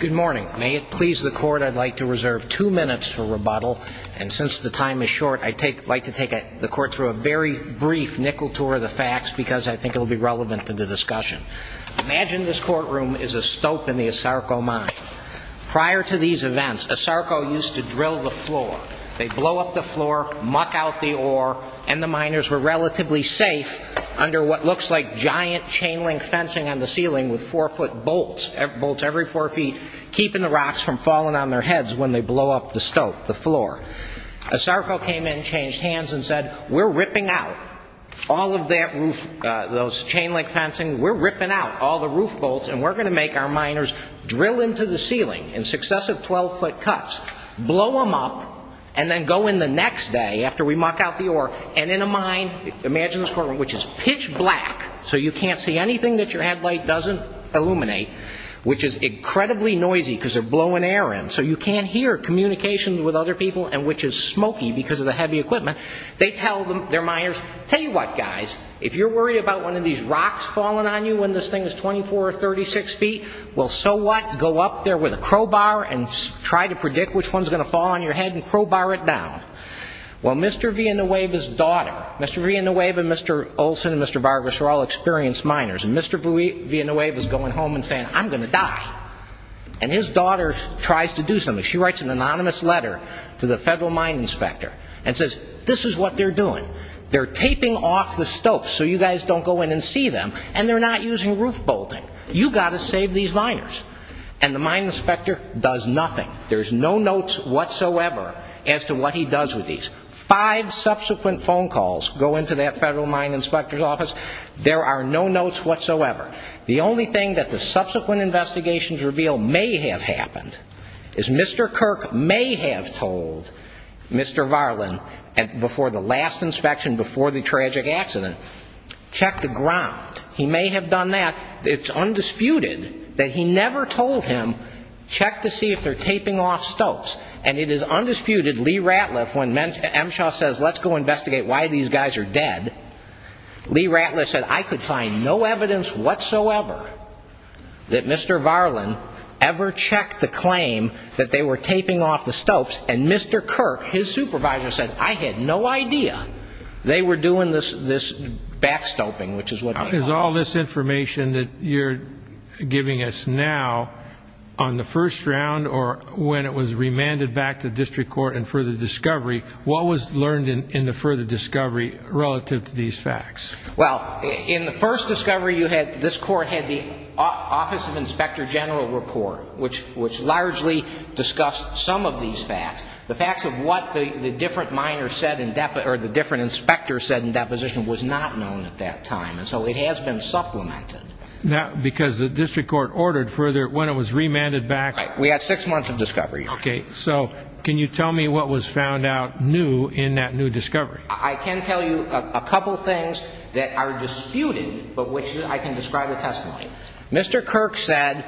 Good morning. May it please the Court, I'd like to reserve two minutes for rebuttal, and since the time is short, I'd like to take the Court through a very brief nickel tour of the facts because I think it will be relevant to the discussion. Imagine this courtroom is a stope in the Asarco mine. Prior to these events, Asarco used to drill the floor. They'd blow up the floor, muck out the ore, and the miners were relatively safe under what looks like giant chain-link fencing on the ceiling with four-foot bolts, bolts every four feet, keeping the rocks from falling on their heads when they blow up the stope, the floor. Asarco came in, changed hands, and said, we're ripping out all of that roof, those chain-link fencing, we're ripping out all the roof bolts, and we're going to make our miners drill into the ceiling in successive 12-foot cuts, blow them up, and then go in the next day after we muck out the ore, and in a mine, imagine this courtroom, which is pitch black, so you can't see anything that your headlight doesn't illuminate, which is incredibly noisy because they're blowing air in, so you can't hear communications with other people, and which is smoky because of the heavy equipment, they tell their miners, tell you what, guys, if you're worried about one of these rocks falling on you when this thing is 24 or 36 feet, well, so what? Go up there with a crowbar and try to predict which one is going to fall on your head and crowbar it down. Well, Mr. Villanueva's daughter, Mr. Villanueva and Mr. Olson and Mr. Vargas are all experienced miners, and Mr. Villanueva is going home and saying, I'm going to die. And his daughter tries to do something. She writes an anonymous letter to the federal mine inspector and says, this is what they're doing. They're taping off the stopes so you guys don't go in and see them, and they're not using roof bolting. You got to save these miners. And the mine inspector does nothing. There's no notes whatsoever as to what he does with these. Five subsequent phone calls go into that federal mine inspector's office. There are no notes whatsoever. The only thing that the subsequent investigations reveal may have happened is Mr. Kirk may have told Mr. Varlin before the last inspection, before the tragic accident, check the ground. He may have done that. It's undisputed that he never told him, check to see if they're taping off stopes. And it is undisputed, Lee Ratliff, when Emshaw says, let's go investigate why these guys are dead, Lee Ratliff said, I could find no evidence whatsoever. That Mr. Varlin ever checked the claim that they were taping off the stopes, and Mr. Kirk, his supervisor, said, I had no idea they were doing this backstopping, which is what they are. Is all this information that you're giving us now on the first round or when it was remanded back to district court and further discovery, what was learned in the further discovery relative to these facts? Well, in the first discovery, this court had the Office of Inspector General report, which largely discussed some of these facts. The facts of what the different inspectors said in deposition was not known at that time. And so it has been supplemented. Because the district court ordered further, when it was remanded back. Right. We had six months of discovery. Okay. So can you tell me what was found out new in that new discovery? I can tell you a couple of things that are disputed, but which I can describe the testimony. Mr. Kirk said,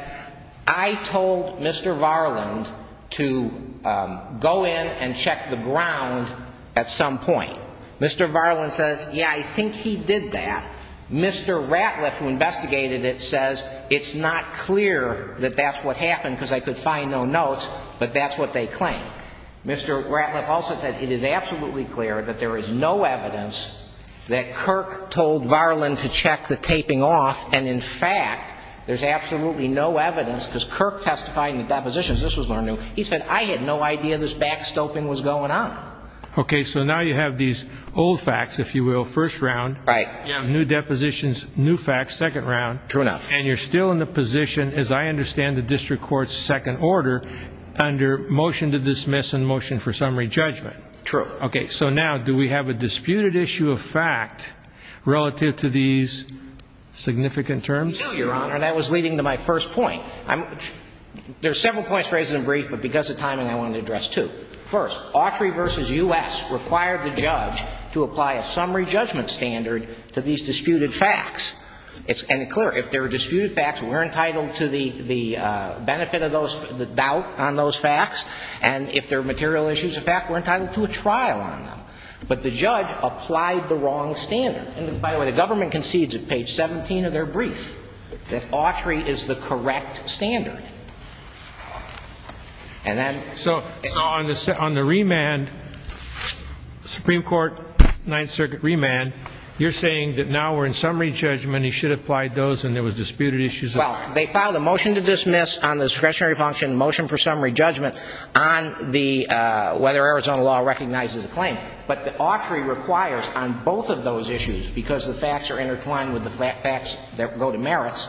I told Mr. Varlin to go in and check the ground at some point. Mr. Varlin says, yeah, I think he did that. Mr. Ratliff, who investigated it, says it's not clear that that's what happened because I could find no notes. But that's what they claim. Mr. Ratliff also said it is absolutely clear that there is no evidence that Kirk told Varlin to check the taping off. And in fact, there's absolutely no evidence because Kirk testified in the depositions. This was learned. He said, I had no idea this backstopping was going on. Okay. So now you have these old facts, if you will, first round. Right. You have new depositions, new facts, second round. True enough. And you're still in the position, as I understand the district court's second order, under motion to dismiss and motion for summary judgment. True. Okay. So now do we have a disputed issue of fact relative to these significant terms? We do, Your Honor, and that was leading to my first point. There are several points raised in brief, but because of timing, I want to address two. First, Autry v. U.S. required the judge to apply a summary judgment standard to these disputed facts. And it's clear, if they're disputed facts, we're entitled to the benefit of those, the doubt on those facts. And if they're material issues of fact, we're entitled to a trial on them. But the judge applied the wrong standard. And by the way, the government concedes at page 17 of their brief that Autry is the correct standard. So on the remand, Supreme Court Ninth Circuit remand, you're saying that now we're in summary judgment, he should have applied those and there was disputed issues of fact. Well, they filed a motion to dismiss on the discretionary function, motion for summary judgment on whether Arizona law recognizes the claim. But Autry requires on both of those issues, because the facts are intertwined with the facts that go to merits,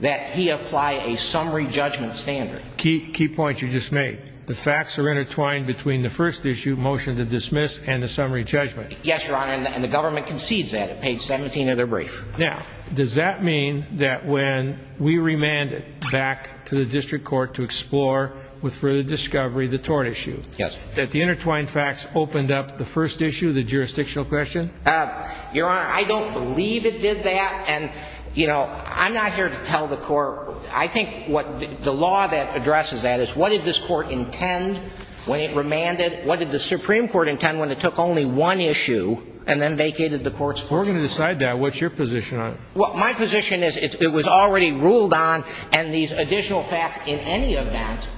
that he apply a summary judgment standard. Key point you just made. The facts are intertwined between the first issue, motion to dismiss, and the summary judgment. Yes, Your Honor, and the government concedes that at page 17 of their brief. Now, does that mean that when we remanded back to the district court to explore with further discovery the tort issue, that the intertwined facts opened up the first issue, the jurisdictional question? Your Honor, I don't believe it did that. And, you know, I'm not here to tell the court. I think what the law that addresses that is what did this court intend when it remanded? What did the Supreme Court intend when it took only one issue and then vacated the court's fortune? We're going to decide that. What's your position on it? Well, my position is it was already ruled on and these additional facts in any event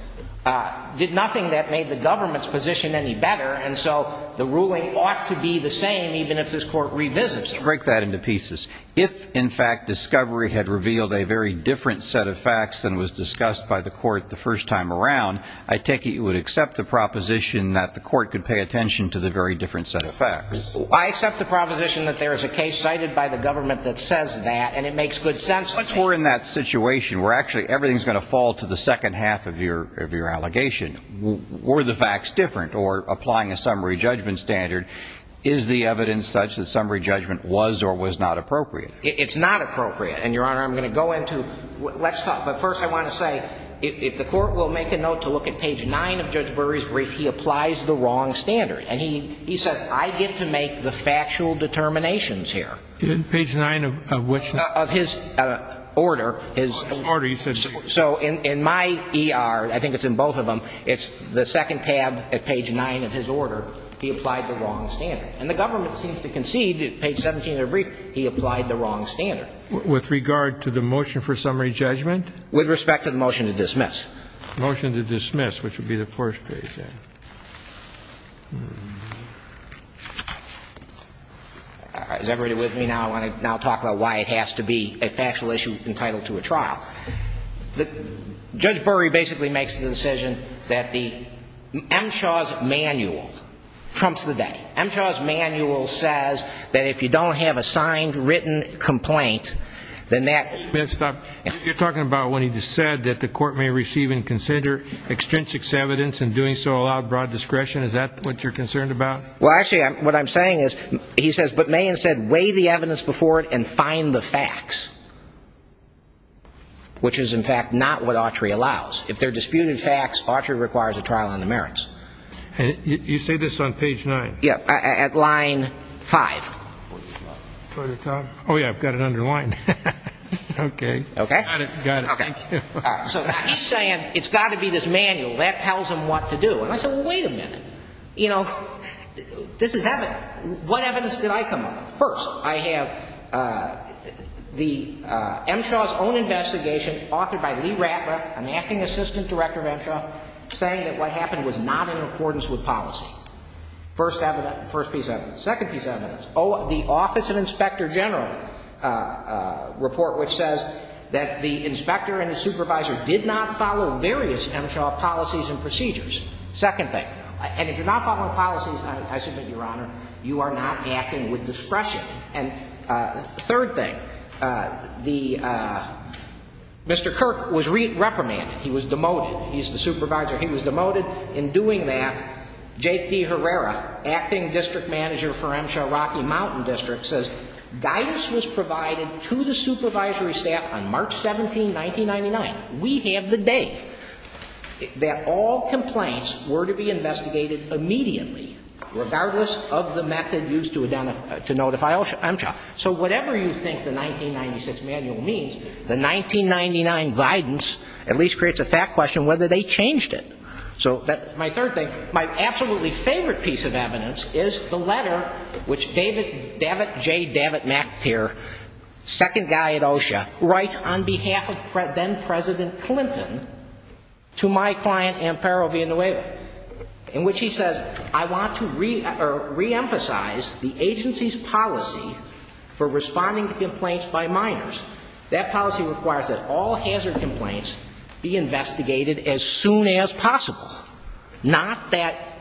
did nothing that made the government's position any better. And so the ruling ought to be the same even if this court revisits it. Let's break that into pieces. If, in fact, discovery had revealed a very different set of facts than was discussed by the court the first time around, I take it you would accept the proposition that the court could pay attention to the very different set of facts. I accept the proposition that there is a case cited by the government that says that, and it makes good sense. Once we're in that situation where actually everything is going to fall to the second half of your allegation, were the facts different or applying a summary judgment standard, is the evidence such that summary judgment was or was not appropriate? It's not appropriate. And, Your Honor, I'm going to go into what's thought. But first I want to say if the court will make a note to look at page nine of Judge Burry's brief, he applies the wrong standard. And he says I get to make the factual determinations here. Page nine of which? Of his order. His order. So in my ER, I think it's in both of them, it's the second tab at page nine of his order, he applied the wrong standard. And the government seems to concede at page 17 of their brief he applied the wrong standard. With regard to the motion for summary judgment? With respect to the motion to dismiss. Motion to dismiss, which would be the first page there. Is everybody with me now? I want to now talk about why it has to be a factual issue entitled to a trial. Judge Burry basically makes the decision that the M. Shaw's manual trumps the day. M. Shaw's manual says that if you don't have a signed, written complaint, then that. May I stop? You're talking about when he just said that the court may receive and consider extrinsic evidence, and doing so allowed broad discretion, is that what you're concerned about? Well, actually, what I'm saying is, he says, but may instead weigh the evidence before it and find the facts. Which is, in fact, not what Autry allows. If they're disputed facts, Autry requires a trial on the merits. You say this on page nine? Yeah, at line five. Oh, yeah, I've got it underlined. Okay. Okay. Got it. Thank you. So he's saying it's got to be this manual. That tells him what to do. And I said, well, wait a minute. You know, this is evidence. What evidence did I come up with? First, I have M. Shaw's own investigation, authored by Lee Ratliff, an acting assistant director of M. Shaw, saying that what happened was not in accordance with policy. First piece of evidence. Second piece of evidence. The Office of Inspector General report, which says that the inspector and the supervisor did not follow various M. Shaw policies and procedures. Second thing. And if you're not following policies, I submit, Your Honor, you are not acting with discretion. And third thing. Mr. Kirk was reprimanded. He was demoted. He's the supervisor. He was demoted. In doing that, J.T. Herrera, acting district manager for M. Shaw Rocky Mountain District, says, Guidance was provided to the supervisory staff on March 17, 1999. We have the date that all complaints were to be investigated immediately, regardless of the method used to identify M. Shaw. So whatever you think the 1996 manual means, the 1999 guidance at least creates a fact question whether they changed it. So that's my third thing. My absolutely favorite piece of evidence is the letter which David J. Davitt-McTier, second guy at OSHA, writes on behalf of then-President Clinton to my client Amparo Villanueva, in which he says, I want to reemphasize the agency's policy for responding to complaints by minors. That policy requires that all hazard complaints be investigated as soon as possible, not that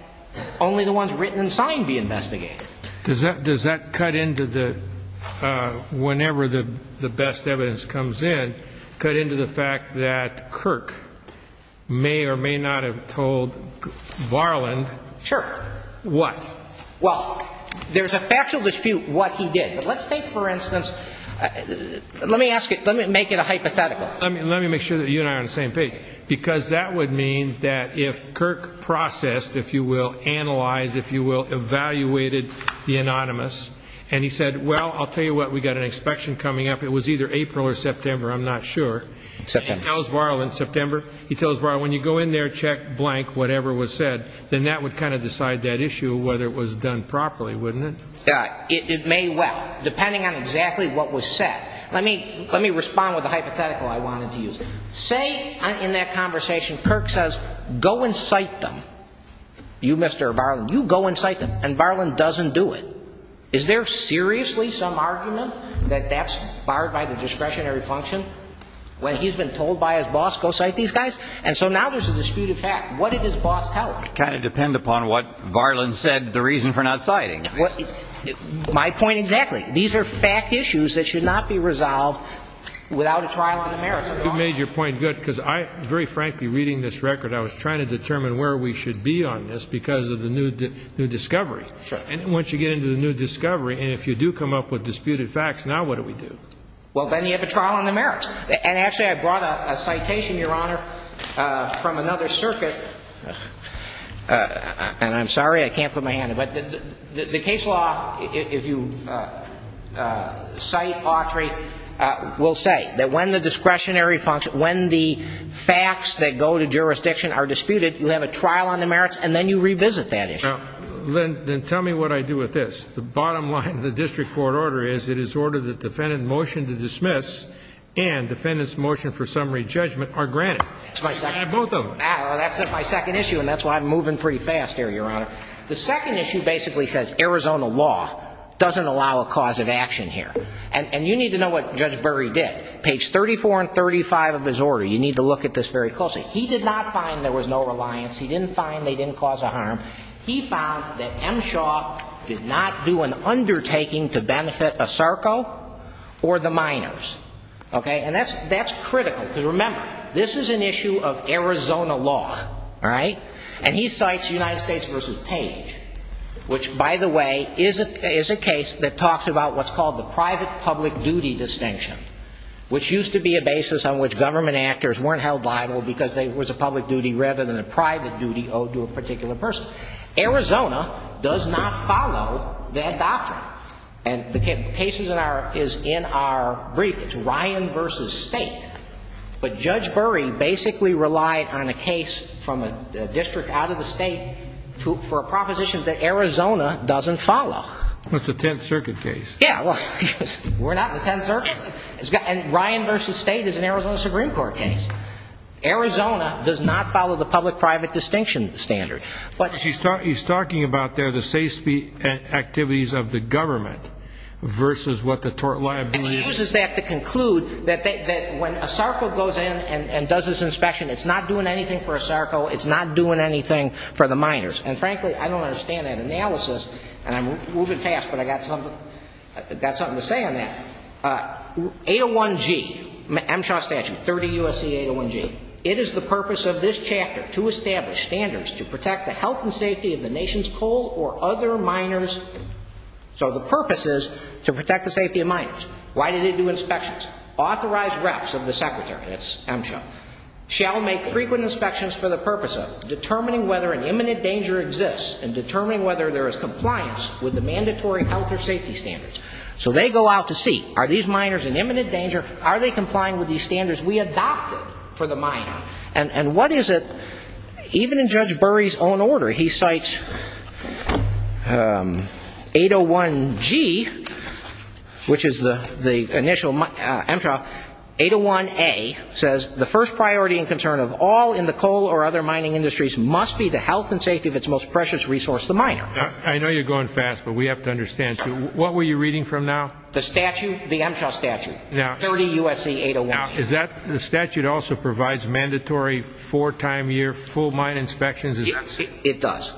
only the ones written and signed be investigated. Does that cut into the, whenever the best evidence comes in, cut into the fact that Kirk may or may not have told Varland what? Sure. Well, there's a factual dispute what he did. But let's take, for instance, let me ask you, let me make it a hypothetical. Let me make sure that you and I are on the same page. Because that would mean that if Kirk processed, if you will, analyzed, if you will, evaluated the anonymous, and he said, well, I'll tell you what, we've got an inspection coming up. It was either April or September, I'm not sure. September. He tells Varland, September. He tells Varland, when you go in there, check blank whatever was said, then that would kind of decide that issue whether it was done properly, wouldn't it? It may well, depending on exactly what was said. Let me respond with a hypothetical I wanted to use. Say, in that conversation, Kirk says, go and cite them. You, Mr. Varland, you go and cite them. And Varland doesn't do it. Is there seriously some argument that that's barred by the discretionary function when he's been told by his boss, go cite these guys? And so now there's a dispute of fact. What did his boss tell him? It would kind of depend upon what Varland said, the reason for not citing. My point exactly. These are fact issues that should not be resolved without a trial on the merits. You made your point good because I, very frankly, reading this record, I was trying to determine where we should be on this because of the new discovery. Sure. And once you get into the new discovery, and if you do come up with disputed facts, now what do we do? Well, then you have a trial on the merits. And actually, I brought a citation, Your Honor, from another circuit. And I'm sorry, I can't put my hand up. But the case law, if you cite Autry, will say that when the discretionary function, when the facts that go to jurisdiction are disputed, you have a trial on the merits, and then you revisit that issue. Then tell me what I do with this. The bottom line of the district court order is it is ordered that defendant motion to dismiss and defendant's motion for summary judgment are granted. Both of them. That's my second issue, and that's why I'm moving pretty fast here, Your Honor. The second issue basically says Arizona law doesn't allow a cause of action here. And you need to know what Judge Berry did. Page 34 and 35 of his order, you need to look at this very closely. He did not find there was no reliance. He didn't find they didn't cause a harm. He found that M. Shaw did not do an undertaking to benefit Asarco or the minors. Okay? And that's critical. Because remember, this is an issue of Arizona law. All right? And he cites United States v. Page, which, by the way, is a case that talks about what's called the private-public-duty distinction, which used to be a basis on which government actors weren't held liable because it was a public duty rather than a private duty owed to a particular person. Arizona does not follow that doctrine. And the case is in our brief. It's Ryan v. State. But Judge Berry basically relied on a case from a district out of the state for a proposition that Arizona doesn't follow. Well, it's a Tenth Circuit case. Yeah, well, we're not in the Tenth Circuit. And Ryan v. State is an Arizona Supreme Court case. Arizona does not follow the public-private distinction standard. But he's talking about there the safety activities of the government versus what the tort liability is. And he uses that to conclude that when Asarco goes in and does this inspection, it's not doing anything for Asarco. It's not doing anything for the minors. And, frankly, I don't understand that analysis. And I'm moving fast, but I've got something to say on that. 801G, MSHA statute, 30 U.S.C. 801G. It is the purpose of this chapter to establish standards to protect the health and safety of the nation's coal or other minors. So the purpose is to protect the safety of minors. Why do they do inspections? Authorized reps of the Secretary, that's MSHA, shall make frequent inspections for the purpose of determining whether an imminent danger exists and determining whether there is compliance with the mandatory health or safety standards. So they go out to see, are these minors in imminent danger? Are they complying with these standards we adopted for the minor? And what is it, even in Judge Burry's own order, he cites 801G, which is the initial MSHA, 801A, says, the first priority and concern of all in the coal or other mining industries must be the health and safety of its most precious resource, the minor. I know you're going fast, but we have to understand. What were you reading from now? The statute, the MSHA statute, 30 U.S.C. 801G. Now, is that, the statute also provides mandatory four-time year full mine inspections? It does.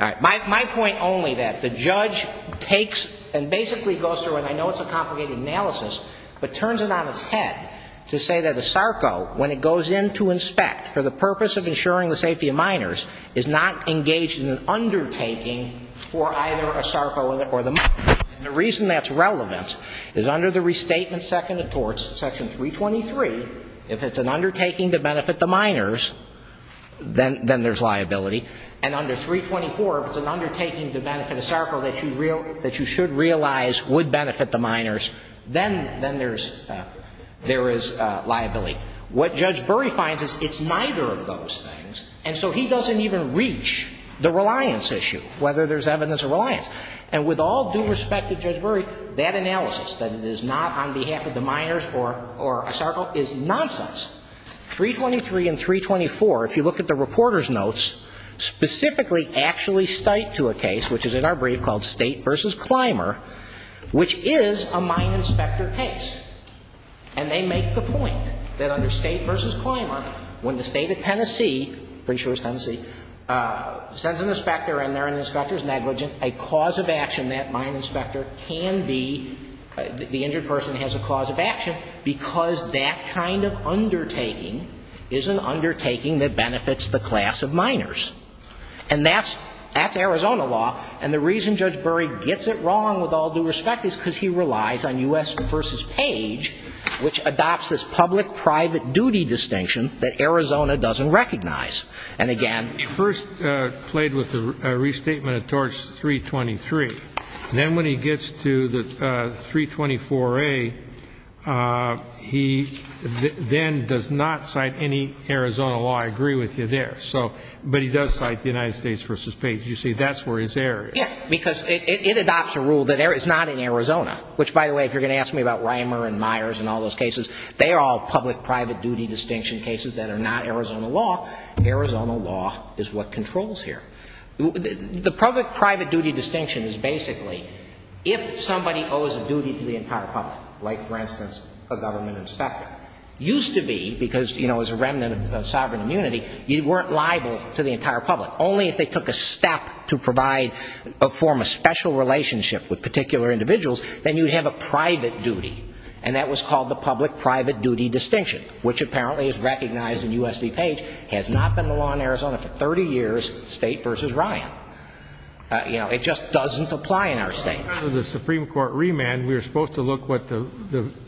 My point only that the judge takes and basically goes through, and I know it's a complicated analysis, but turns it on its head to say that a SARCO, when it goes in to inspect for the purpose of ensuring the safety of minors, is not engaged in an undertaking for either a SARCO or the minor. And the reason that's relevant is under the Restatement Second of Torts, Section 323, if it's an undertaking to benefit the minors, then there's liability. And under 324, if it's an undertaking to benefit a SARCO that you should realize would benefit the minors, then there is liability. What Judge Burry finds is it's neither of those things, and so he doesn't even reach the reliance issue, whether there's evidence of reliance. And with all due respect to Judge Burry, that analysis, that it is not on behalf of the minors or a SARCO, is nonsense. 323 and 324, if you look at the reporter's notes, specifically actually cite to a case, which is in our brief called State v. Clymer, which is a mine inspector case. And they make the point that under State v. Clymer, when the State of Tennessee, pretty sure it's Tennessee, sends an inspector in there and the inspector is negligent, a cause of action that mine inspector can be, the injured person has a cause of action, because that kind of undertaking is an undertaking that benefits the class of minors. And that's Arizona law. And the reason Judge Burry gets it wrong, with all due respect, is because he relies on U.S. v. Page, which adopts this public-private duty distinction that Arizona doesn't recognize. And, again, it first played with the restatement of Torch 323. Then when he gets to the 324A, he then does not cite any Arizona law. I agree with you there. But he does cite the United States v. Page. You see, that's where his error is. Yeah, because it adopts a rule that it's not in Arizona, which, by the way, if you're going to ask me about Reimer and Myers and all those cases, they are all public-private duty distinction cases that are not Arizona law. Arizona law is what controls here. The public-private duty distinction is basically if somebody owes a duty to the entire public, like, for instance, a government inspector, used to be, because, you know, as a remnant of sovereign immunity, you weren't liable to the entire public. Only if they took a step to provide a form of special relationship with particular individuals, then you'd have a private duty. And that was called the public-private duty distinction, which apparently is recognized in U.S. v. Page, has not been the law in Arizona for 30 years, State v. Ryan. You know, it just doesn't apply in our state. In the Supreme Court remand, we were supposed to look what the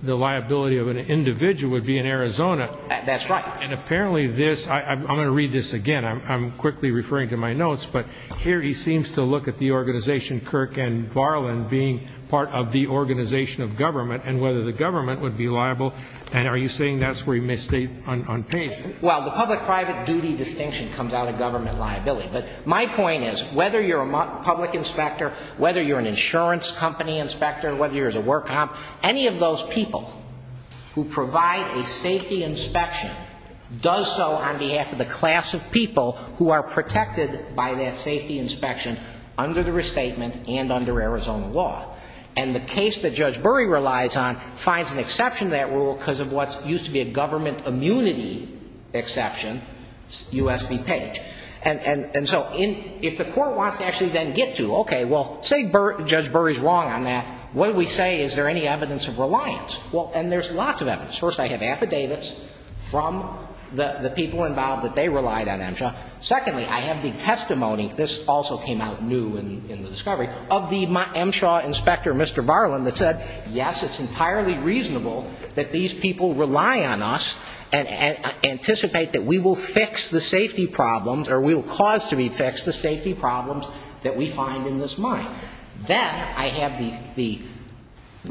liability of an individual would be in Arizona. That's right. And apparently this ‑‑ I'm going to read this again. I'm quickly referring to my notes. But here he seems to look at the organization Kirk and Barlin being part of the organization of government and whether the government would be liable. And are you saying that's where he misstated on Page? Well, the public-private duty distinction comes out of government liability. But my point is, whether you're a public inspector, whether you're an insurance company inspector, whether you're a work comp, any of those people who provide a safety inspection does so on behalf of the class of people who are protected by that safety inspection under the restatement and under Arizona law. And the case that Judge Bury relies on finds an exception to that rule because of what used to be a government immunity exception, U.S. v. Page. And so if the court wants to actually then get to, okay, well, say Judge Bury's wrong on that, what do we say? Is there any evidence of reliance? And there's lots of evidence. First, I have affidavits from the people involved that they relied on MSHA. Secondly, I have the testimony, this also came out new in the discovery, of the MSHA inspector, Mr. Barlin, that said, yes, it's entirely reasonable that these people rely on us and anticipate that we will fix the safety problems or we will cause to be fixed the safety problems that we find in this mine. Then I have the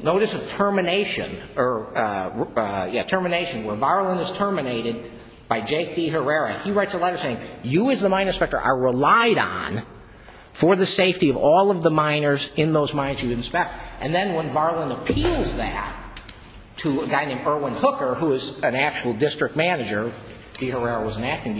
notice of termination or, yeah, termination where Barlin is terminated by J.P. Herrera. He writes a letter saying, you as the mine inspector are relied on for the safety of all of the miners in those mines you inspect. And then when Barlin appeals that to a guy named Irwin Hooker, who is an actual district manager, J.P. Herrera was an acting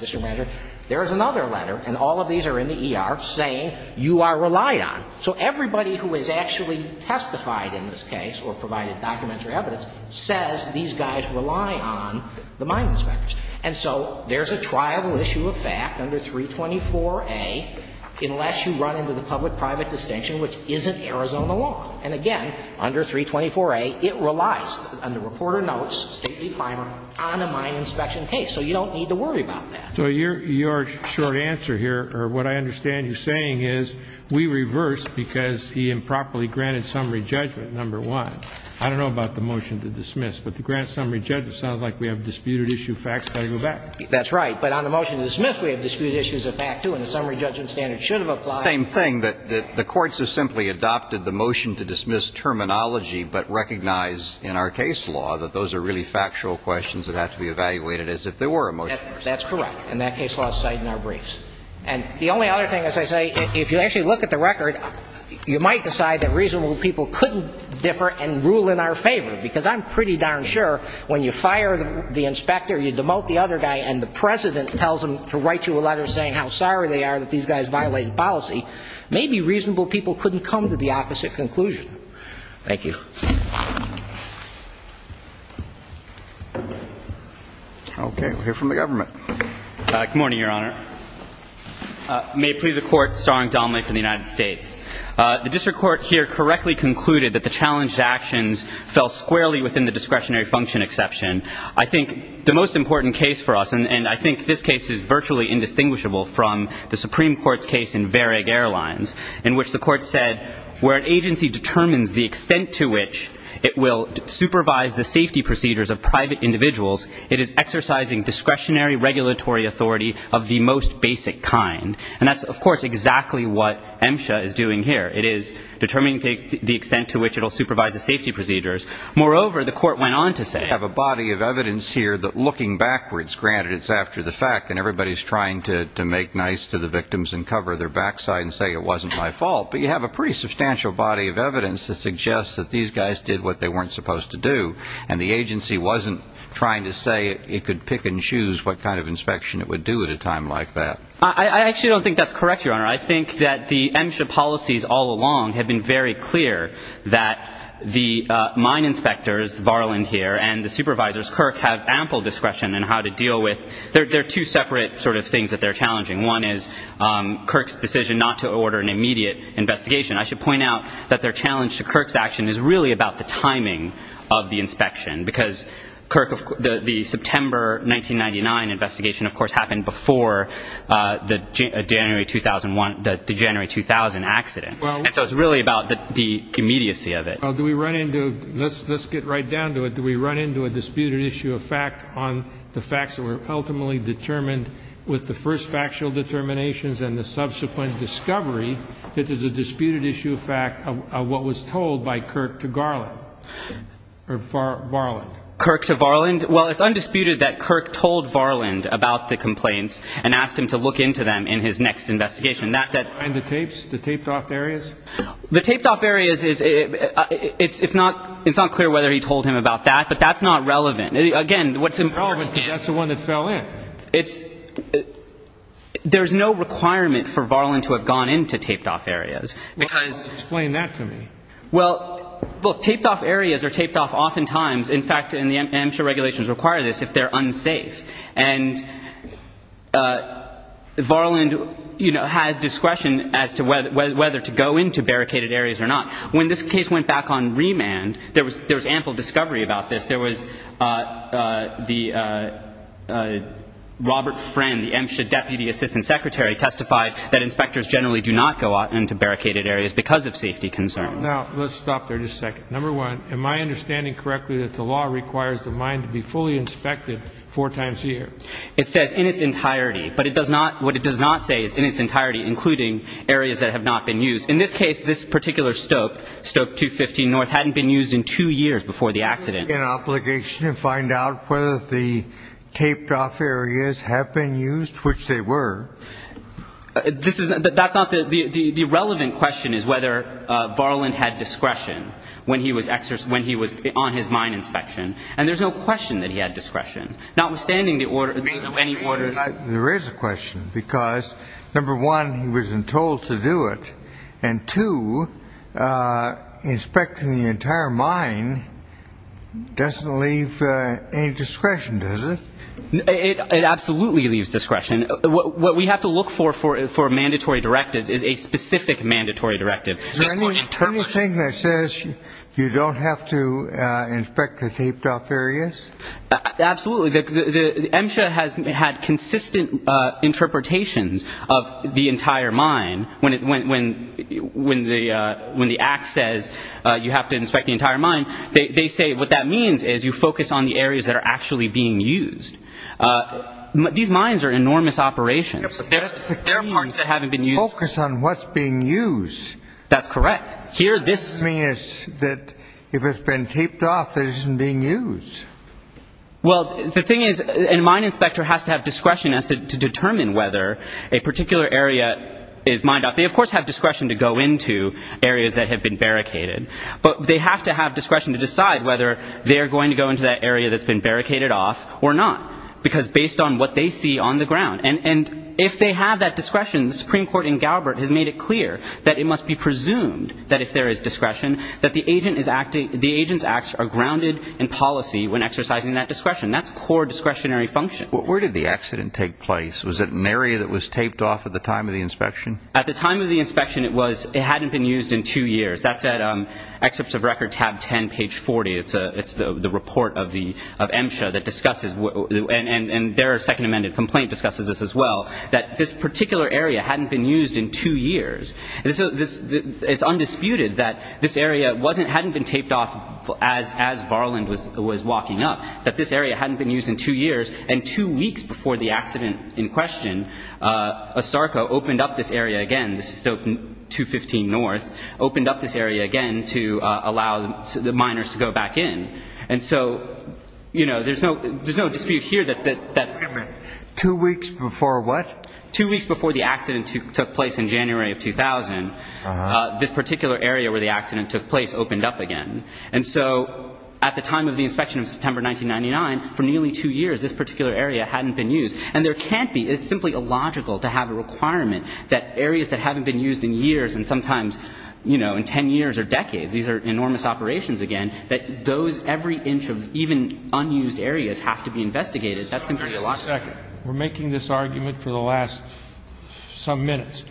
district manager, there is another letter, and all of these are in the ER, saying you are relied on. So everybody who has actually testified in this case or provided documentary evidence says these guys rely on the mine inspectors. And so there is a triable issue of fact under 324A unless you run into the public-private distinction, which isn't Arizona law. And, again, under 324A, it relies on the reporter notes, state decliner, on a mine inspection case. So you don't need to worry about that. So your short answer here, or what I understand you're saying, is we reversed because he improperly granted summary judgment, number one. I don't know about the motion to dismiss, but the grant summary judgment sounds like we have disputed issue facts, got to go back. That's right. But on the motion to dismiss, we have disputed issues of fact, too, and the summary judgment standard should have applied. Same thing. The courts have simply adopted the motion to dismiss terminology but recognize in our case law that those are really factual questions that have to be evaluated as if there were a motion to dismiss. That's correct. And that case law is cited in our briefs. And the only other thing, as I say, if you actually look at the record, you might decide that reasonable people couldn't differ and rule in our favor because I'm pretty darn sure when you fire the inspector, you demote the other guy, and the president tells him to write you a letter saying how sorry they are that these guys violated policy, maybe reasonable people couldn't come to the opposite conclusion. Thank you. Okay. We'll hear from the government. Good morning, Your Honor. May it please the Court, Sergeant Donnelly from the United States. The district court here correctly concluded that the challenged actions fell squarely within the discretionary function exception. I think the most important case for us, and I think this case is virtually indistinguishable from the Supreme Court's case in Verag Airlines, in which the court said where an agency determines the extent to which it will supervise the safety procedures of private individuals, it is exercising discretionary regulatory authority of the most basic kind. And that's, of course, exactly what MSHA is doing here. It is determining the extent to which it will supervise the safety procedures. Moreover, the court went on to say… You have a body of evidence here that looking backwards, granted it's after the fact and everybody's trying to make nice to the victims and cover their backside and say it wasn't my fault, but you have a pretty substantial body of evidence that suggests that these guys did what they weren't supposed to do, and the agency wasn't trying to say it could pick and choose what kind of inspection it would do at a time like that. I actually don't think that's correct, Your Honor. I think that the MSHA policies all along have been very clear that the mine inspectors, Varland here, and the supervisors, Kirk, have ample discretion in how to deal with… They're two separate sort of things that they're challenging. One is Kirk's decision not to order an immediate investigation. I should point out that their challenge to Kirk's action is really about the timing of the inspection, because the September 1999 investigation, of course, happened before the January 2001 — the January 2000 accident. And so it's really about the immediacy of it. Well, do we run into — let's get right down to it. Do we run into a disputed issue of fact on the facts that were ultimately determined with the first factual determinations and the subsequent discovery that there's a disputed issue of fact of what was told by Kirk to Varland? Kirk to Varland? Well, it's undisputed that Kirk told Varland about the complaints and asked him to look into them in his next investigation. And the tapes, the taped-off areas? The taped-off areas is — it's not clear whether he told him about that, but that's not relevant. Again, what's important is… No, but that's the one that fell in. It's — there's no requirement for Varland to have gone into taped-off areas, because… Well, explain that to me. Well, look, taped-off areas are taped-off oftentimes. In fact, and I'm sure regulations require this, if they're unsafe. And Varland, you know, had discretion as to whether to go into barricaded areas or not. When this case went back on remand, there was ample discovery about this. There was the — Robert Friend, the MSHA deputy assistant secretary, testified that inspectors generally do not go into barricaded areas because of safety concerns. Number one, am I understanding correctly that the law requires the mine to be fully inspected four times a year? It says, in its entirety. But it does not — what it does not say is, in its entirety, including areas that have not been used. In this case, this particular stope, Stope 215 North, hadn't been used in two years before the accident. Is there an obligation to find out whether the taped-off areas have been used, which they were? This is — that's not the — the relevant question is whether Varland had discretion. When he was on his mine inspection. And there's no question that he had discretion. Notwithstanding the order — any orders — There is a question because, number one, he wasn't told to do it. And, two, inspecting the entire mine doesn't leave any discretion, does it? It absolutely leaves discretion. What we have to look for for mandatory directives is a specific mandatory directive. Is there anything that says you don't have to inspect the taped-off areas? Absolutely. MSHA has had consistent interpretations of the entire mine. When the act says you have to inspect the entire mine, they say what that means is you focus on the areas that are actually being used. These mines are enormous operations. Focus on what's being used. That's correct. This means that if it's been taped off, it isn't being used. Well, the thing is a mine inspector has to have discretion to determine whether a particular area is mined. They, of course, have discretion to go into areas that have been barricaded. But they have to have discretion to decide whether they're going to go into that area that's been barricaded off or not. Because based on what they see on the ground. And if they have that discretion, the Supreme Court in Galbert has made it clear that it must be presumed that if there is discretion, that the agent's acts are grounded in policy when exercising that discretion. That's core discretionary function. Where did the accident take place? Was it an area that was taped off at the time of the inspection? At the time of the inspection, it hadn't been used in two years. That's at Excerpts of Record, tab 10, page 40. It's the report of MSHA that discusses, and their second amended complaint discusses this as well, that this particular area hadn't been used in two years. It's undisputed that this area hadn't been taped off as Varland was walking up, that this area hadn't been used in two years. And two weeks before the accident in question, ASARCO opened up this area again, 215 North, opened up this area again to allow the miners to go back in. And so, you know, there's no dispute here that... Two weeks before what? Two weeks before the accident took place in January of 2000, this particular area where the accident took place opened up again. And so at the time of the inspection of September 1999, for nearly two years, this particular area hadn't been used. And there can't be. It's simply illogical to have a requirement that areas that haven't been used in years and sometimes, you know, in ten years or decades, these are enormous operations again, that those every inch of even unused areas have to be investigated. That's simply illogical. We're making this argument for the last some minutes.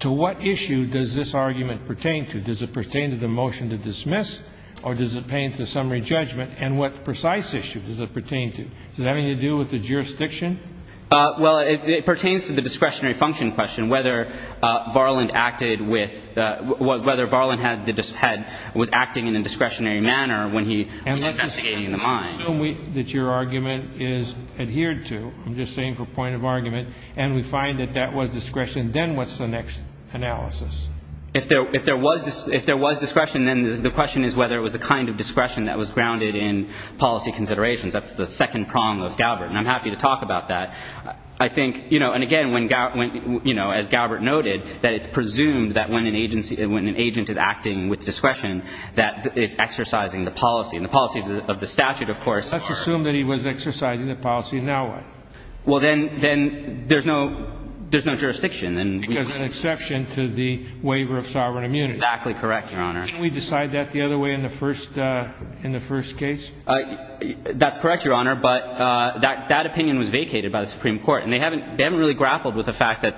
To what issue does this argument pertain to? Does it pertain to the motion to dismiss, or does it pertain to summary judgment? And what precise issue does it pertain to? Does it have anything to do with the jurisdiction? Well, it pertains to the discretionary function question, whether Varland was acting in a discretionary manner when he was investigating the mine. Let's assume that your argument is adhered to. I'm just saying for point of argument. And we find that that was discretion. Then what's the next analysis? If there was discretion, then the question is whether it was the kind of discretion that was grounded in policy considerations. That's the second prong of Galbert, and I'm happy to talk about that. I think, you know, and again, as Galbert noted, that it's presumed that when an agent is acting with discretion that it's exercising the policy. And the policies of the statute, of course, are. Let's assume that he was exercising the policies. Now what? Well, then there's no jurisdiction. Because an exception to the waiver of sovereign immunity. Exactly correct, Your Honor. Can't we decide that the other way in the first case? That's correct, Your Honor. But that opinion was vacated by the Supreme Court. And they haven't really grappled with the fact that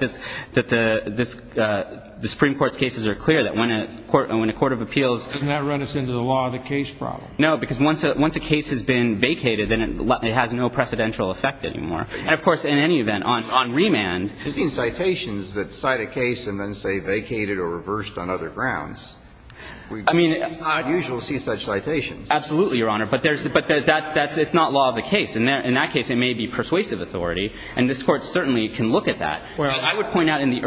the Supreme Court's cases are clear that when a court of appeals... Doesn't that run us into the law of the case problem? No, because once a case has been vacated, then it has no precedential effect anymore. And, of course, in any event, on remand... We've seen citations that cite a case and then say vacated or reversed on other grounds. I mean... It's not usual to see such citations. Absolutely, Your Honor. But it's not law of the case. In that case, it may be persuasive authority. And this Court certainly can look at that. I would point out in the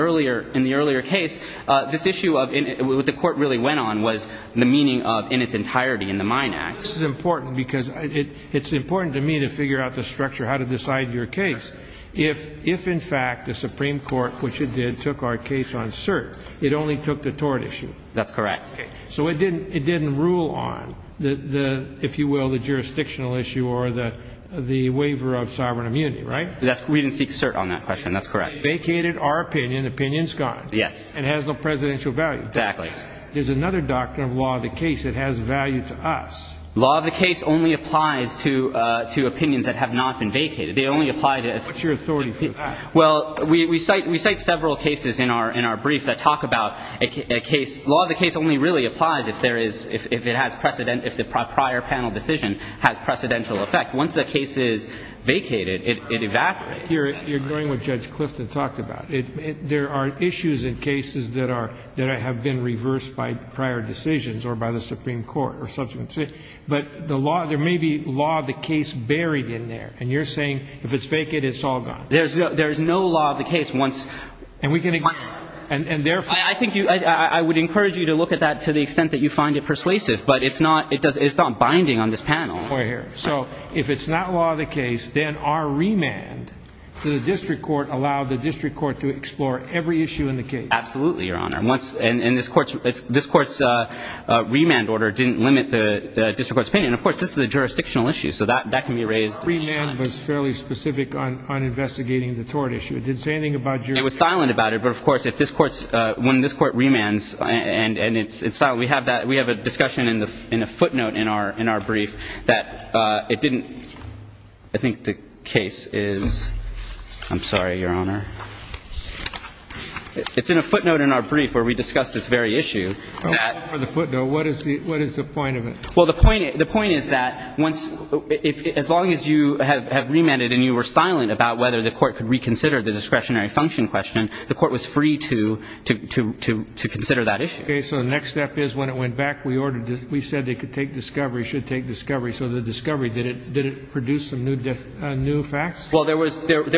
earlier case, this issue of what the Court really went on was the meaning of in its entirety in the Mine Act. This is important because it's important to me to figure out the structure how to decide your case. If, in fact, the Supreme Court, which it did, took our case on cert, it only took the tort issue. That's correct. So it didn't rule on, if you will, the jurisdictional issue or the waiver of sovereign immunity, right? We didn't seek cert on that question. That's correct. Vacated our opinion. The opinion's gone. Yes. And it has no presidential value. Exactly. There's another doctrine of law of the case that has value to us. Law of the case only applies to opinions that have not been vacated. They only apply to... What's your authority for that? Well, we cite several cases in our brief that talk about a case. Law of the case only really applies if there is, if it has precedent, if the prior panel decision has precedential effect. Once a case is vacated, it evaporates. You're ignoring what Judge Clifton talked about. There are issues in cases that are, that have been reversed by prior decisions or by the Supreme Court or subsequent... But the law, there may be law of the case buried in there, and you're saying if it's vacant, it's all gone. There is no law of the case once... And we can... Once... And therefore... I think you, I would encourage you to look at that to the extent that you find it persuasive. But it's not, it's not binding on this panel. So if it's not law of the case, then our remand to the district court allowed the district court to explore every issue in the case. Absolutely, Your Honor. And this court's remand order didn't limit the district court's opinion. Of course, this is a jurisdictional issue, so that can be raised... It was silent about it. But, of course, if this court's, when this court remands, and it's silent... We have that, we have a discussion in the footnote in our brief that it didn't... I think the case is... I'm sorry, Your Honor. It's in a footnote in our brief where we discuss this very issue. The footnote, what is the point of it? Well, the point is that once, as long as you have remanded and you were silent about whether the court could reconsider the discretionary function question, the court was free to consider that issue. Okay, so the next step is when it went back, we said it could take discovery, should take discovery. So the discovery, did it produce some new facts? Well, there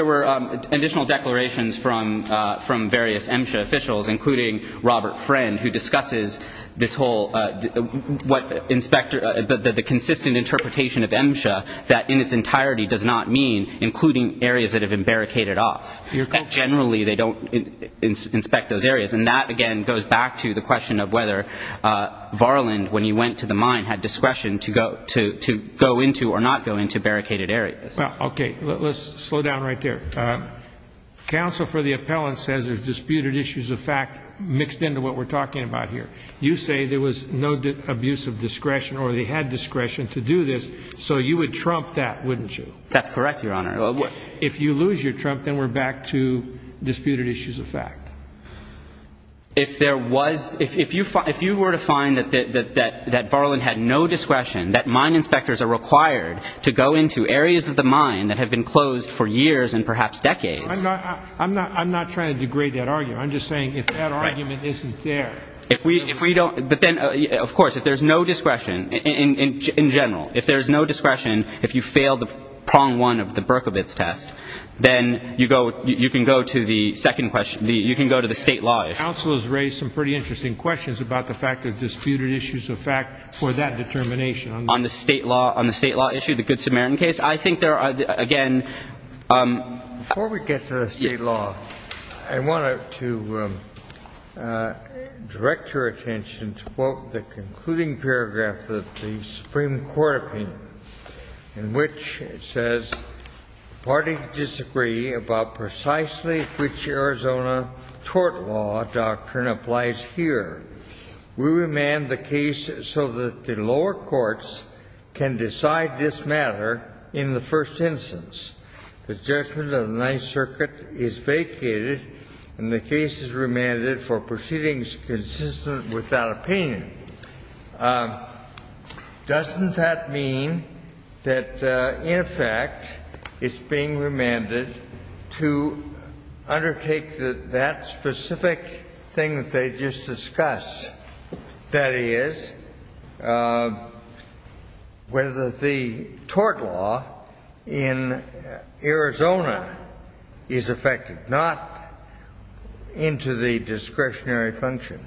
were additional declarations from various MSHA officials, including Robert Friend, who discusses this whole, what inspector, the consistent interpretation of MSHA that in its entirety does not mean including areas that have been barricaded off. Generally, they don't inspect those areas. And that, again, goes back to the question of whether Varland, when he went to the mine, had discretion to go into or not go into barricaded areas. Okay, let's slow down right there. Counsel for the appellant says there's disputed issues of fact mixed into what we're talking about here. You say there was no abuse of discretion or they had discretion to do this, so you would trump that, wouldn't you? That's correct, Your Honor. If you lose your trump, then we're back to disputed issues of fact. If there was, if you were to find that Varland had no discretion, that mine inspectors are required to go into areas of the mine that have been closed for years and perhaps decades. I'm not trying to degrade that argument. I'm just saying if that argument isn't there. But then, of course, if there's no discretion, in general, if there's no discretion, if you fail the prong one of the Berkovitz test, then you can go to the second question. You can go to the state law issue. Counsel has raised some pretty interesting questions about the fact of disputed issues of fact for that determination. On the state law issue, the Good Samaritan case, I think there are, again. Before we get to the state law, I wanted to direct your attention to the concluding paragraph of the Supreme Court opinion in which it says, Does the party disagree about precisely which Arizona tort law doctrine applies here? We remand the case so that the lower courts can decide this matter in the first instance. The judgment of the Ninth Circuit is vacated and the case is remanded for proceedings consistent with that opinion. Doesn't that mean that, in effect, it's being remanded to undertake that specific thing that they just discussed? That is, whether the tort law in Arizona is effective, not into the discretionary function?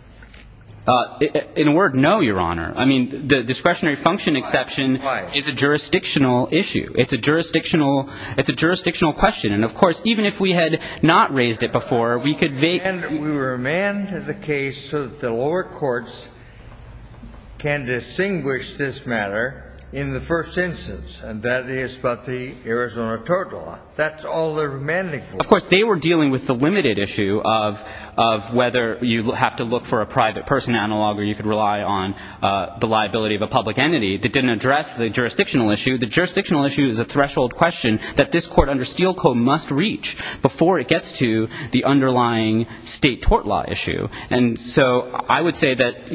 In a word, no, Your Honor. I mean, the discretionary function exception is a jurisdictional issue. It's a jurisdictional question. And, of course, even if we had not raised it before, we could vacate it. We remand the case so that the lower courts can distinguish this matter in the first instance, and that is about the Arizona tort law. That's all they're remanding for. Of course, they were dealing with the limited issue of whether you have to look for a private person analog or you could rely on the liability of a public entity. That didn't address the jurisdictional issue. The jurisdictional issue is a threshold question that this Court under Steele Co. must reach before it gets to the underlying state tort law issue. And so I would say that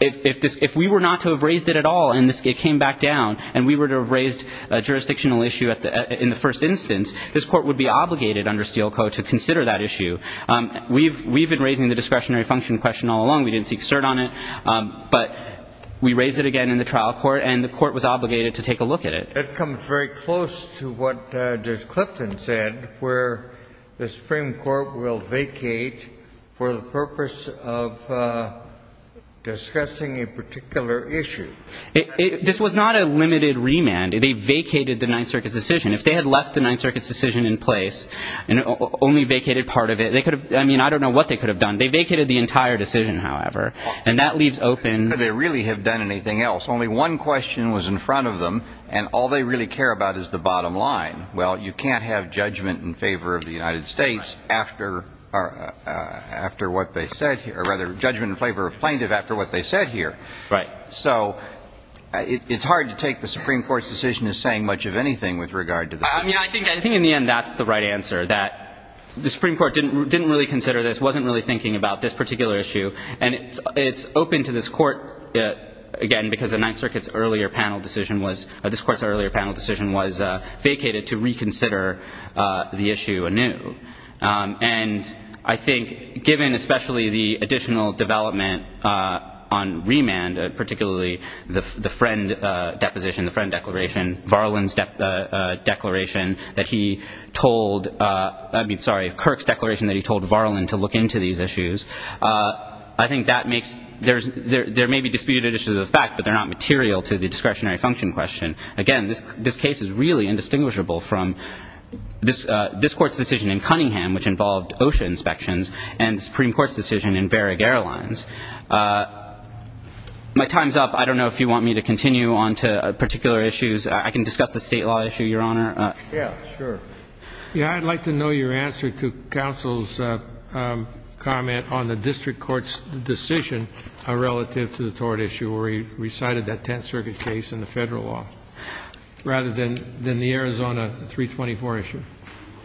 if we were not to have raised it at all and it came back down and we were to have raised a jurisdictional issue in the first instance, this Court would be obligated under Steele Co. to consider that issue. We've been raising the discretionary function question all along. We didn't seek cert on it. But we raised it again in the trial court, and the court was obligated to take a look at it. It comes very close to what Judge Clipton said, where the Supreme Court will vacate for the purpose of discussing a particular issue. This was not a limited remand. They vacated the Ninth Circuit's decision. If they had left the Ninth Circuit's decision in place and only vacated part of it, they could have, I mean, I don't know what they could have done. They vacated the entire decision, however, and that leaves open. They really have done anything else. Only one question was in front of them, and all they really care about is the bottom line. Well, you can't have judgment in favor of the United States after what they said here, or rather judgment in favor of plaintiff after what they said here. Right. So it's hard to take the Supreme Court's decision as saying much of anything with regard to this. I mean, I think in the end that's the right answer, that the Supreme Court didn't really consider this, wasn't really thinking about this particular issue, and it's open to this court, again, because the Ninth Circuit's earlier panel decision was vacated to reconsider the issue anew. And I think given especially the additional development on remand, particularly the Friend deposition, the Friend declaration, Varlin's declaration that he told, I mean, sorry, Kirk's declaration that he told Varlin to look into these issues, I think that makes, there may be disputed issues of the fact, but they're not material to the discretionary function question. Again, this case is really indistinguishable from this Court's decision in Cunningham, which involved OSHA inspections, and the Supreme Court's decision in Varric Airlines. My time's up. I don't know if you want me to continue on to particular issues. I can discuss the state law issue, Your Honor. Yeah, sure. Yeah, I'd like to know your answer to counsel's comment on the district court's decision relative to the tort issue where he recited that Tenth Circuit case in the federal law, rather than the Arizona 324 issue.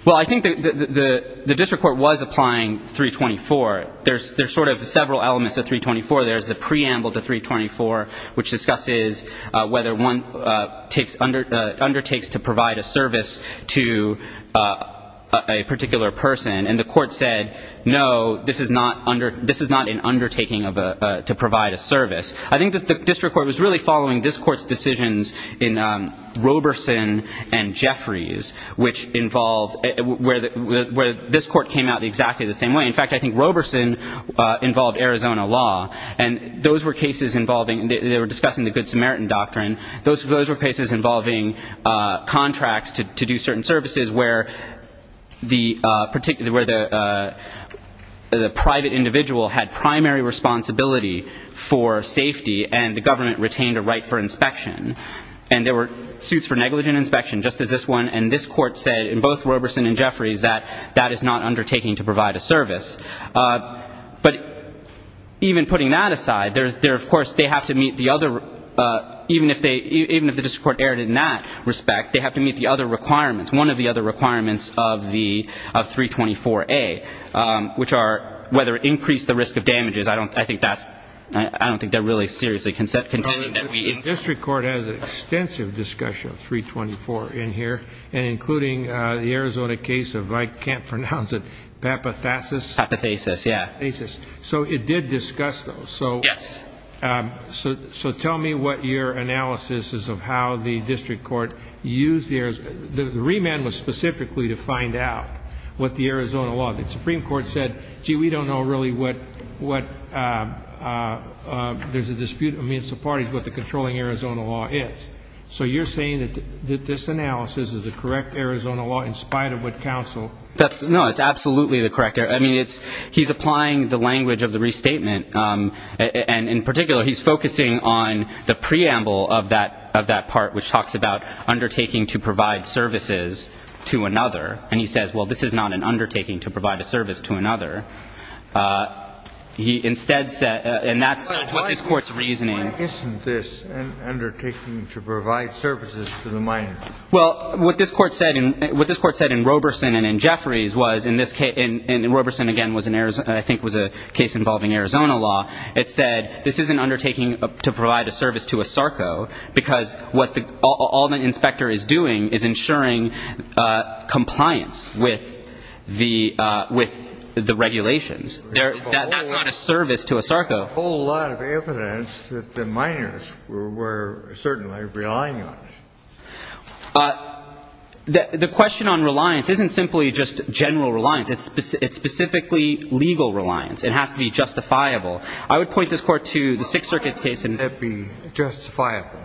Well, I think the district court was applying 324. There's sort of several elements of 324. There's the preamble to 324, which discusses whether one undertakes to provide a service to a particular person. And the court said, no, this is not an undertaking to provide a service. I think the district court was really following this Court's decisions in Roberson and Jeffries, which involved where this Court came out exactly the same way. In fact, I think Roberson involved Arizona law. And those were cases involving they were discussing the Good Samaritan Doctrine. Those were cases involving contracts to do certain services, where the private individual had primary responsibility for safety and the government retained a right for inspection. And there were suits for negligent inspection, just as this one. And this Court said, in both Roberson and Jeffries, that that is not undertaking to provide a service. But even putting that aside, of course, they have to meet the other, even if the district court erred in that respect, they have to meet the other requirements, one of the other requirements of 324A, which are whether it increased the risk of damages. I don't think that's, I don't think that really seriously contended that we. The district court has an extensive discussion of 324 in here, and including the Arizona case of, I can't pronounce it, Papathasus. Papathasus, yeah. So it did discuss those. Yes. So tell me what your analysis is of how the district court used the Arizona. The remand was specifically to find out what the Arizona law. The Supreme Court said, gee, we don't know really what there's a dispute. I mean, it's the parties what the controlling Arizona law is. So you're saying that this analysis is the correct Arizona law in spite of what counsel. No, it's absolutely the correct. I mean, he's applying the language of the restatement. And in particular, he's focusing on the preamble of that part, which talks about undertaking to provide services to another. And he says, well, this is not an undertaking to provide a service to another. He instead said, and that's what this court's reasoning. Why isn't this an undertaking to provide services to the minor? Well, what this court said in Roberson and in Jeffries was in this case, and Roberson, again, I think was a case involving Arizona law. It said this is an undertaking to provide a service to a sarco because all the inspector is doing is ensuring compliance with the regulations. That's not a service to a sarco. There's a whole lot of evidence that the minors were certainly relying on it. The question on reliance isn't simply just general reliance. It's specifically legal reliance. It has to be justifiable. I would point this court to the Sixth Circuit case. It has to be justifiable.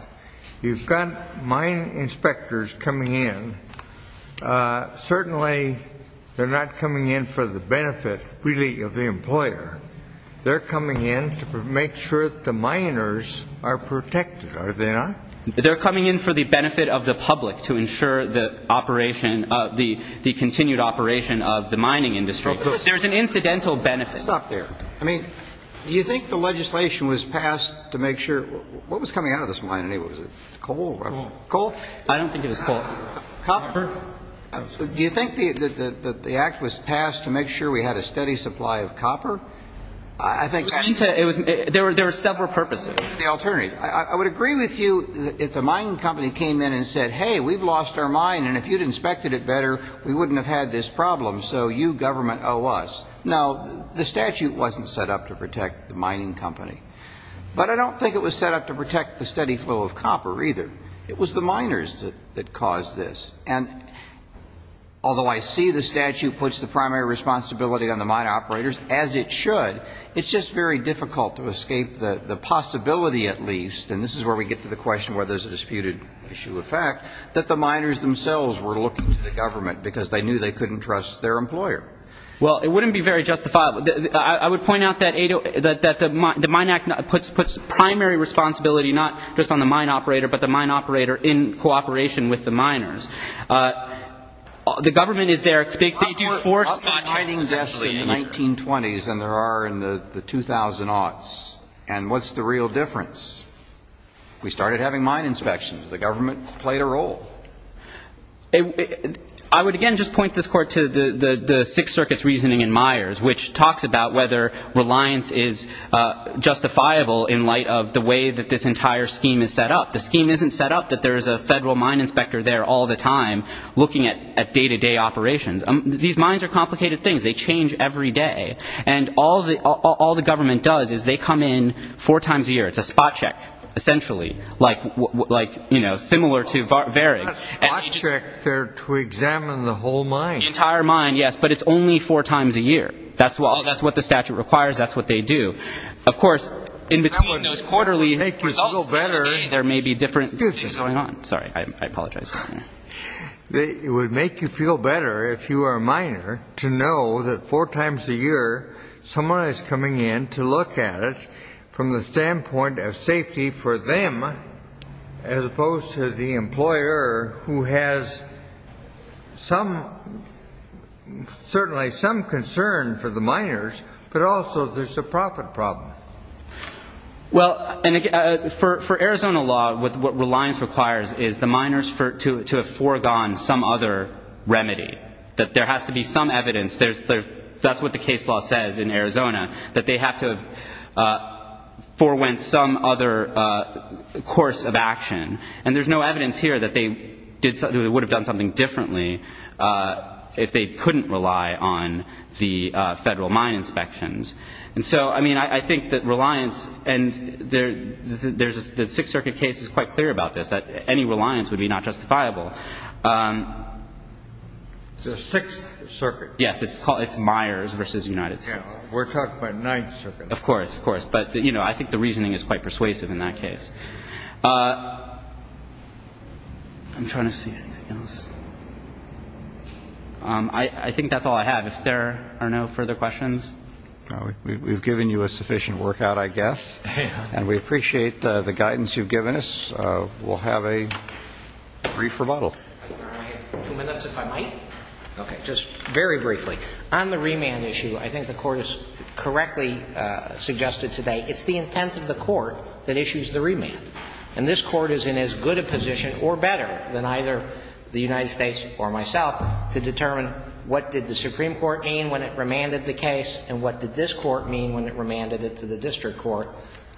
You've got mine inspectors coming in. Certainly, they're not coming in for the benefit, really, of the employer. They're coming in to make sure that the minors are protected, are they not? They're coming in for the benefit of the public to ensure the operation, the continued operation of the mining industry. There's an incidental benefit. Stop there. I mean, do you think the legislation was passed to make sure what was coming out of this mine? Was it coal? Coal? I don't think it was coal. Copper? Do you think that the act was passed to make sure we had a steady supply of copper? I think that's the alternative. There were several purposes. The alternative. I would agree with you if the mining company came in and said, hey, we've lost our mine and if you'd inspected it better, we wouldn't have had this problem, so you government owe us. Now, the statute wasn't set up to protect the mining company. But I don't think it was set up to protect the steady flow of copper, either. It was the minors that caused this. And although I see the statute puts the primary responsibility on the mine operators, as it should, it's just very difficult to escape the possibility, at least, and this is where we get to the question where there's a disputed issue of fact, that the miners themselves were looking to the government because they knew they couldn't trust their employer. Well, it wouldn't be very justifiable. I would point out that the Mine Act puts primary responsibility not just on the mine operator but the mine operator in cooperation with the miners. The government is there. They do four spot checks essentially. There are mining tests in the 1920s than there are in the 2000 aughts. And what's the real difference? We started having mine inspections. The government played a role. I would, again, just point this court to the Sixth Circuit's reasoning in Myers, which talks about whether reliance is justifiable in light of the way that this entire scheme is set up. The scheme isn't set up that there is a federal mine inspector there all the time looking at day-to-day operations. These mines are complicated things. They change every day. And all the government does is they come in four times a year. It's a spot check essentially, like, you know, similar to VARIG. It's not a spot check to examine the whole mine. The entire mine, yes, but it's only four times a year. That's what the statute requires. That's what they do. Of course, in between those quarterly results there may be different things going on. Sorry. I apologize. It would make you feel better if you are a miner to know that four times a year someone is coming in to look at it from the standpoint of safety for them, as opposed to the employer who has certainly some concern for the miners, but also there's a profit problem. Well, for Arizona law, what reliance requires is the miners to have foregone some other remedy, that there has to be some evidence. That's what the case law says in Arizona, that they have to have forewent some other course of action. And there's no evidence here that they would have done something differently if they couldn't rely on the federal mine inspections. And so, I mean, I think that reliance, and the Sixth Circuit case is quite clear about this, that any reliance would be not justifiable. The Sixth Circuit. Yes. It's Myers versus United States. We're talking about Ninth Circuit. Of course. Of course. But, you know, I think the reasoning is quite persuasive in that case. I'm trying to see anything else. I think that's all I have. If there are no further questions. We've given you a sufficient workout, I guess. And we appreciate the guidance you've given us. We'll have a brief rebuttal. I have two minutes, if I might. Okay. Just very briefly. On the remand issue, I think the Court has correctly suggested today, it's the intent of the Court that issues the remand. And this Court is in as good a position or better than either the United States or myself to determine what did the Supreme Court mean when it remanded the case, and what did this Court mean when it remanded it to the district court.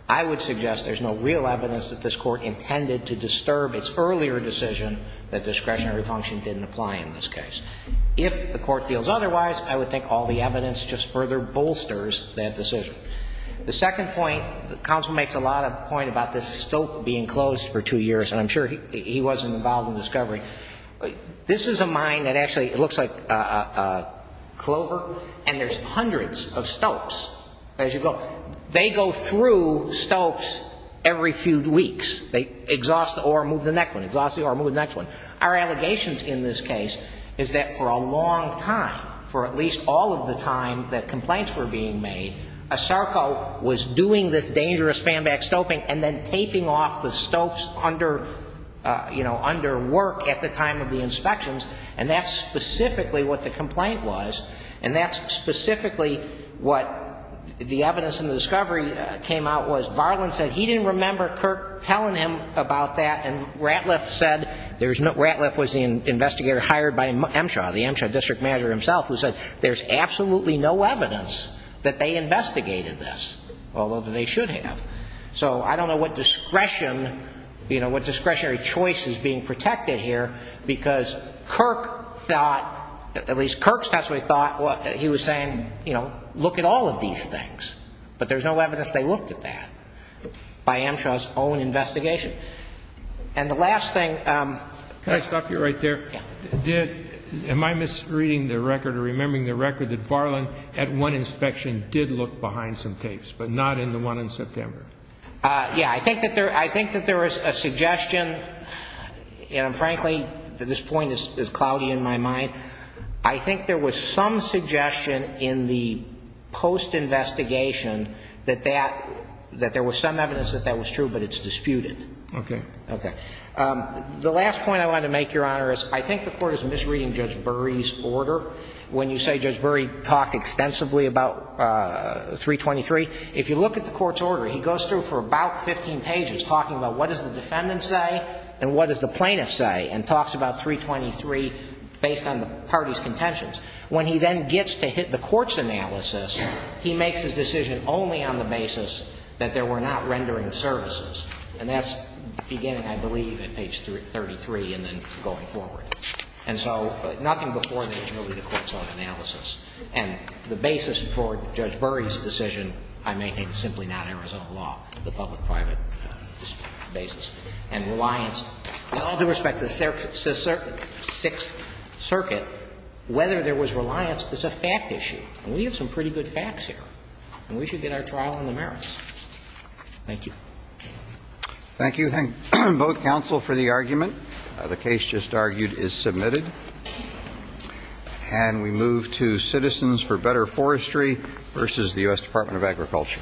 I would suggest there's no real evidence that this Court intended to disturb its earlier decision that discretionary function didn't apply in this case. If the Court feels otherwise, I would think all the evidence just further bolsters that decision. The second point, the counsel makes a lot of point about this stope being closed for two years, and I'm sure he wasn't involved in the discovery. This is a mine that actually looks like a clover, and there's hundreds of stopes as you go. So they go through stopes every few weeks. They exhaust or remove the next one, exhaust or remove the next one. Our allegations in this case is that for a long time, for at least all of the time that complaints were being made, ASARCO was doing this dangerous fanback stoping and then taping off the stopes under, you know, under work at the time of the inspections, and that's specifically what the complaint was, and that's specifically what the evidence in the discovery came out was. Varlin said he didn't remember Kirk telling him about that, and Ratliff said there's no – Ratliff was the investigator hired by MSHA, the MSHA district manager himself, who said there's absolutely no evidence that they investigated this, although they should have. So I don't know what discretion, you know, what discretionary choice is being protected here, because Kirk thought, at least Kirk's testimony thought he was saying, you know, look at all of these things, but there's no evidence they looked at that by MSHA's own investigation. And the last thing – Can I stop you right there? Yeah. Am I misreading the record or remembering the record that Varlin at one inspection did look behind some tapes, but not in the one in September? Yeah, I think that there – I think that there is a suggestion, and frankly, this point is cloudy in my mind. I think there was some suggestion in the post-investigation that that – that there was some evidence that that was true, but it's disputed. Okay. Okay. The last point I wanted to make, Your Honor, is I think the Court is misreading Judge Burry's order. When you say Judge Burry talked extensively about 323, if you look at the Court's order, he goes through for about 15 pages talking about what does the defendant say and what does the plaintiff say, and talks about 323 based on the party's contentions. When he then gets to hit the Court's analysis, he makes his decision only on the basis that there were not rendering services, and that's beginning, I believe, at page 33 and then going forward. And so nothing before that is really the Court's own analysis. And the basis for Judge Burry's decision, I maintain, is simply not Arizona law, the public-private basis. And reliance, with all due respect, the Sixth Circuit, whether there was reliance is a fact issue. And we have some pretty good facts here, and we should get our trial on the merits. Thank you. Thank you. Thank both counsel for the argument. The case just argued is submitted. And we move to Citizens for Better Forestry versus the U.S. Department of Agriculture.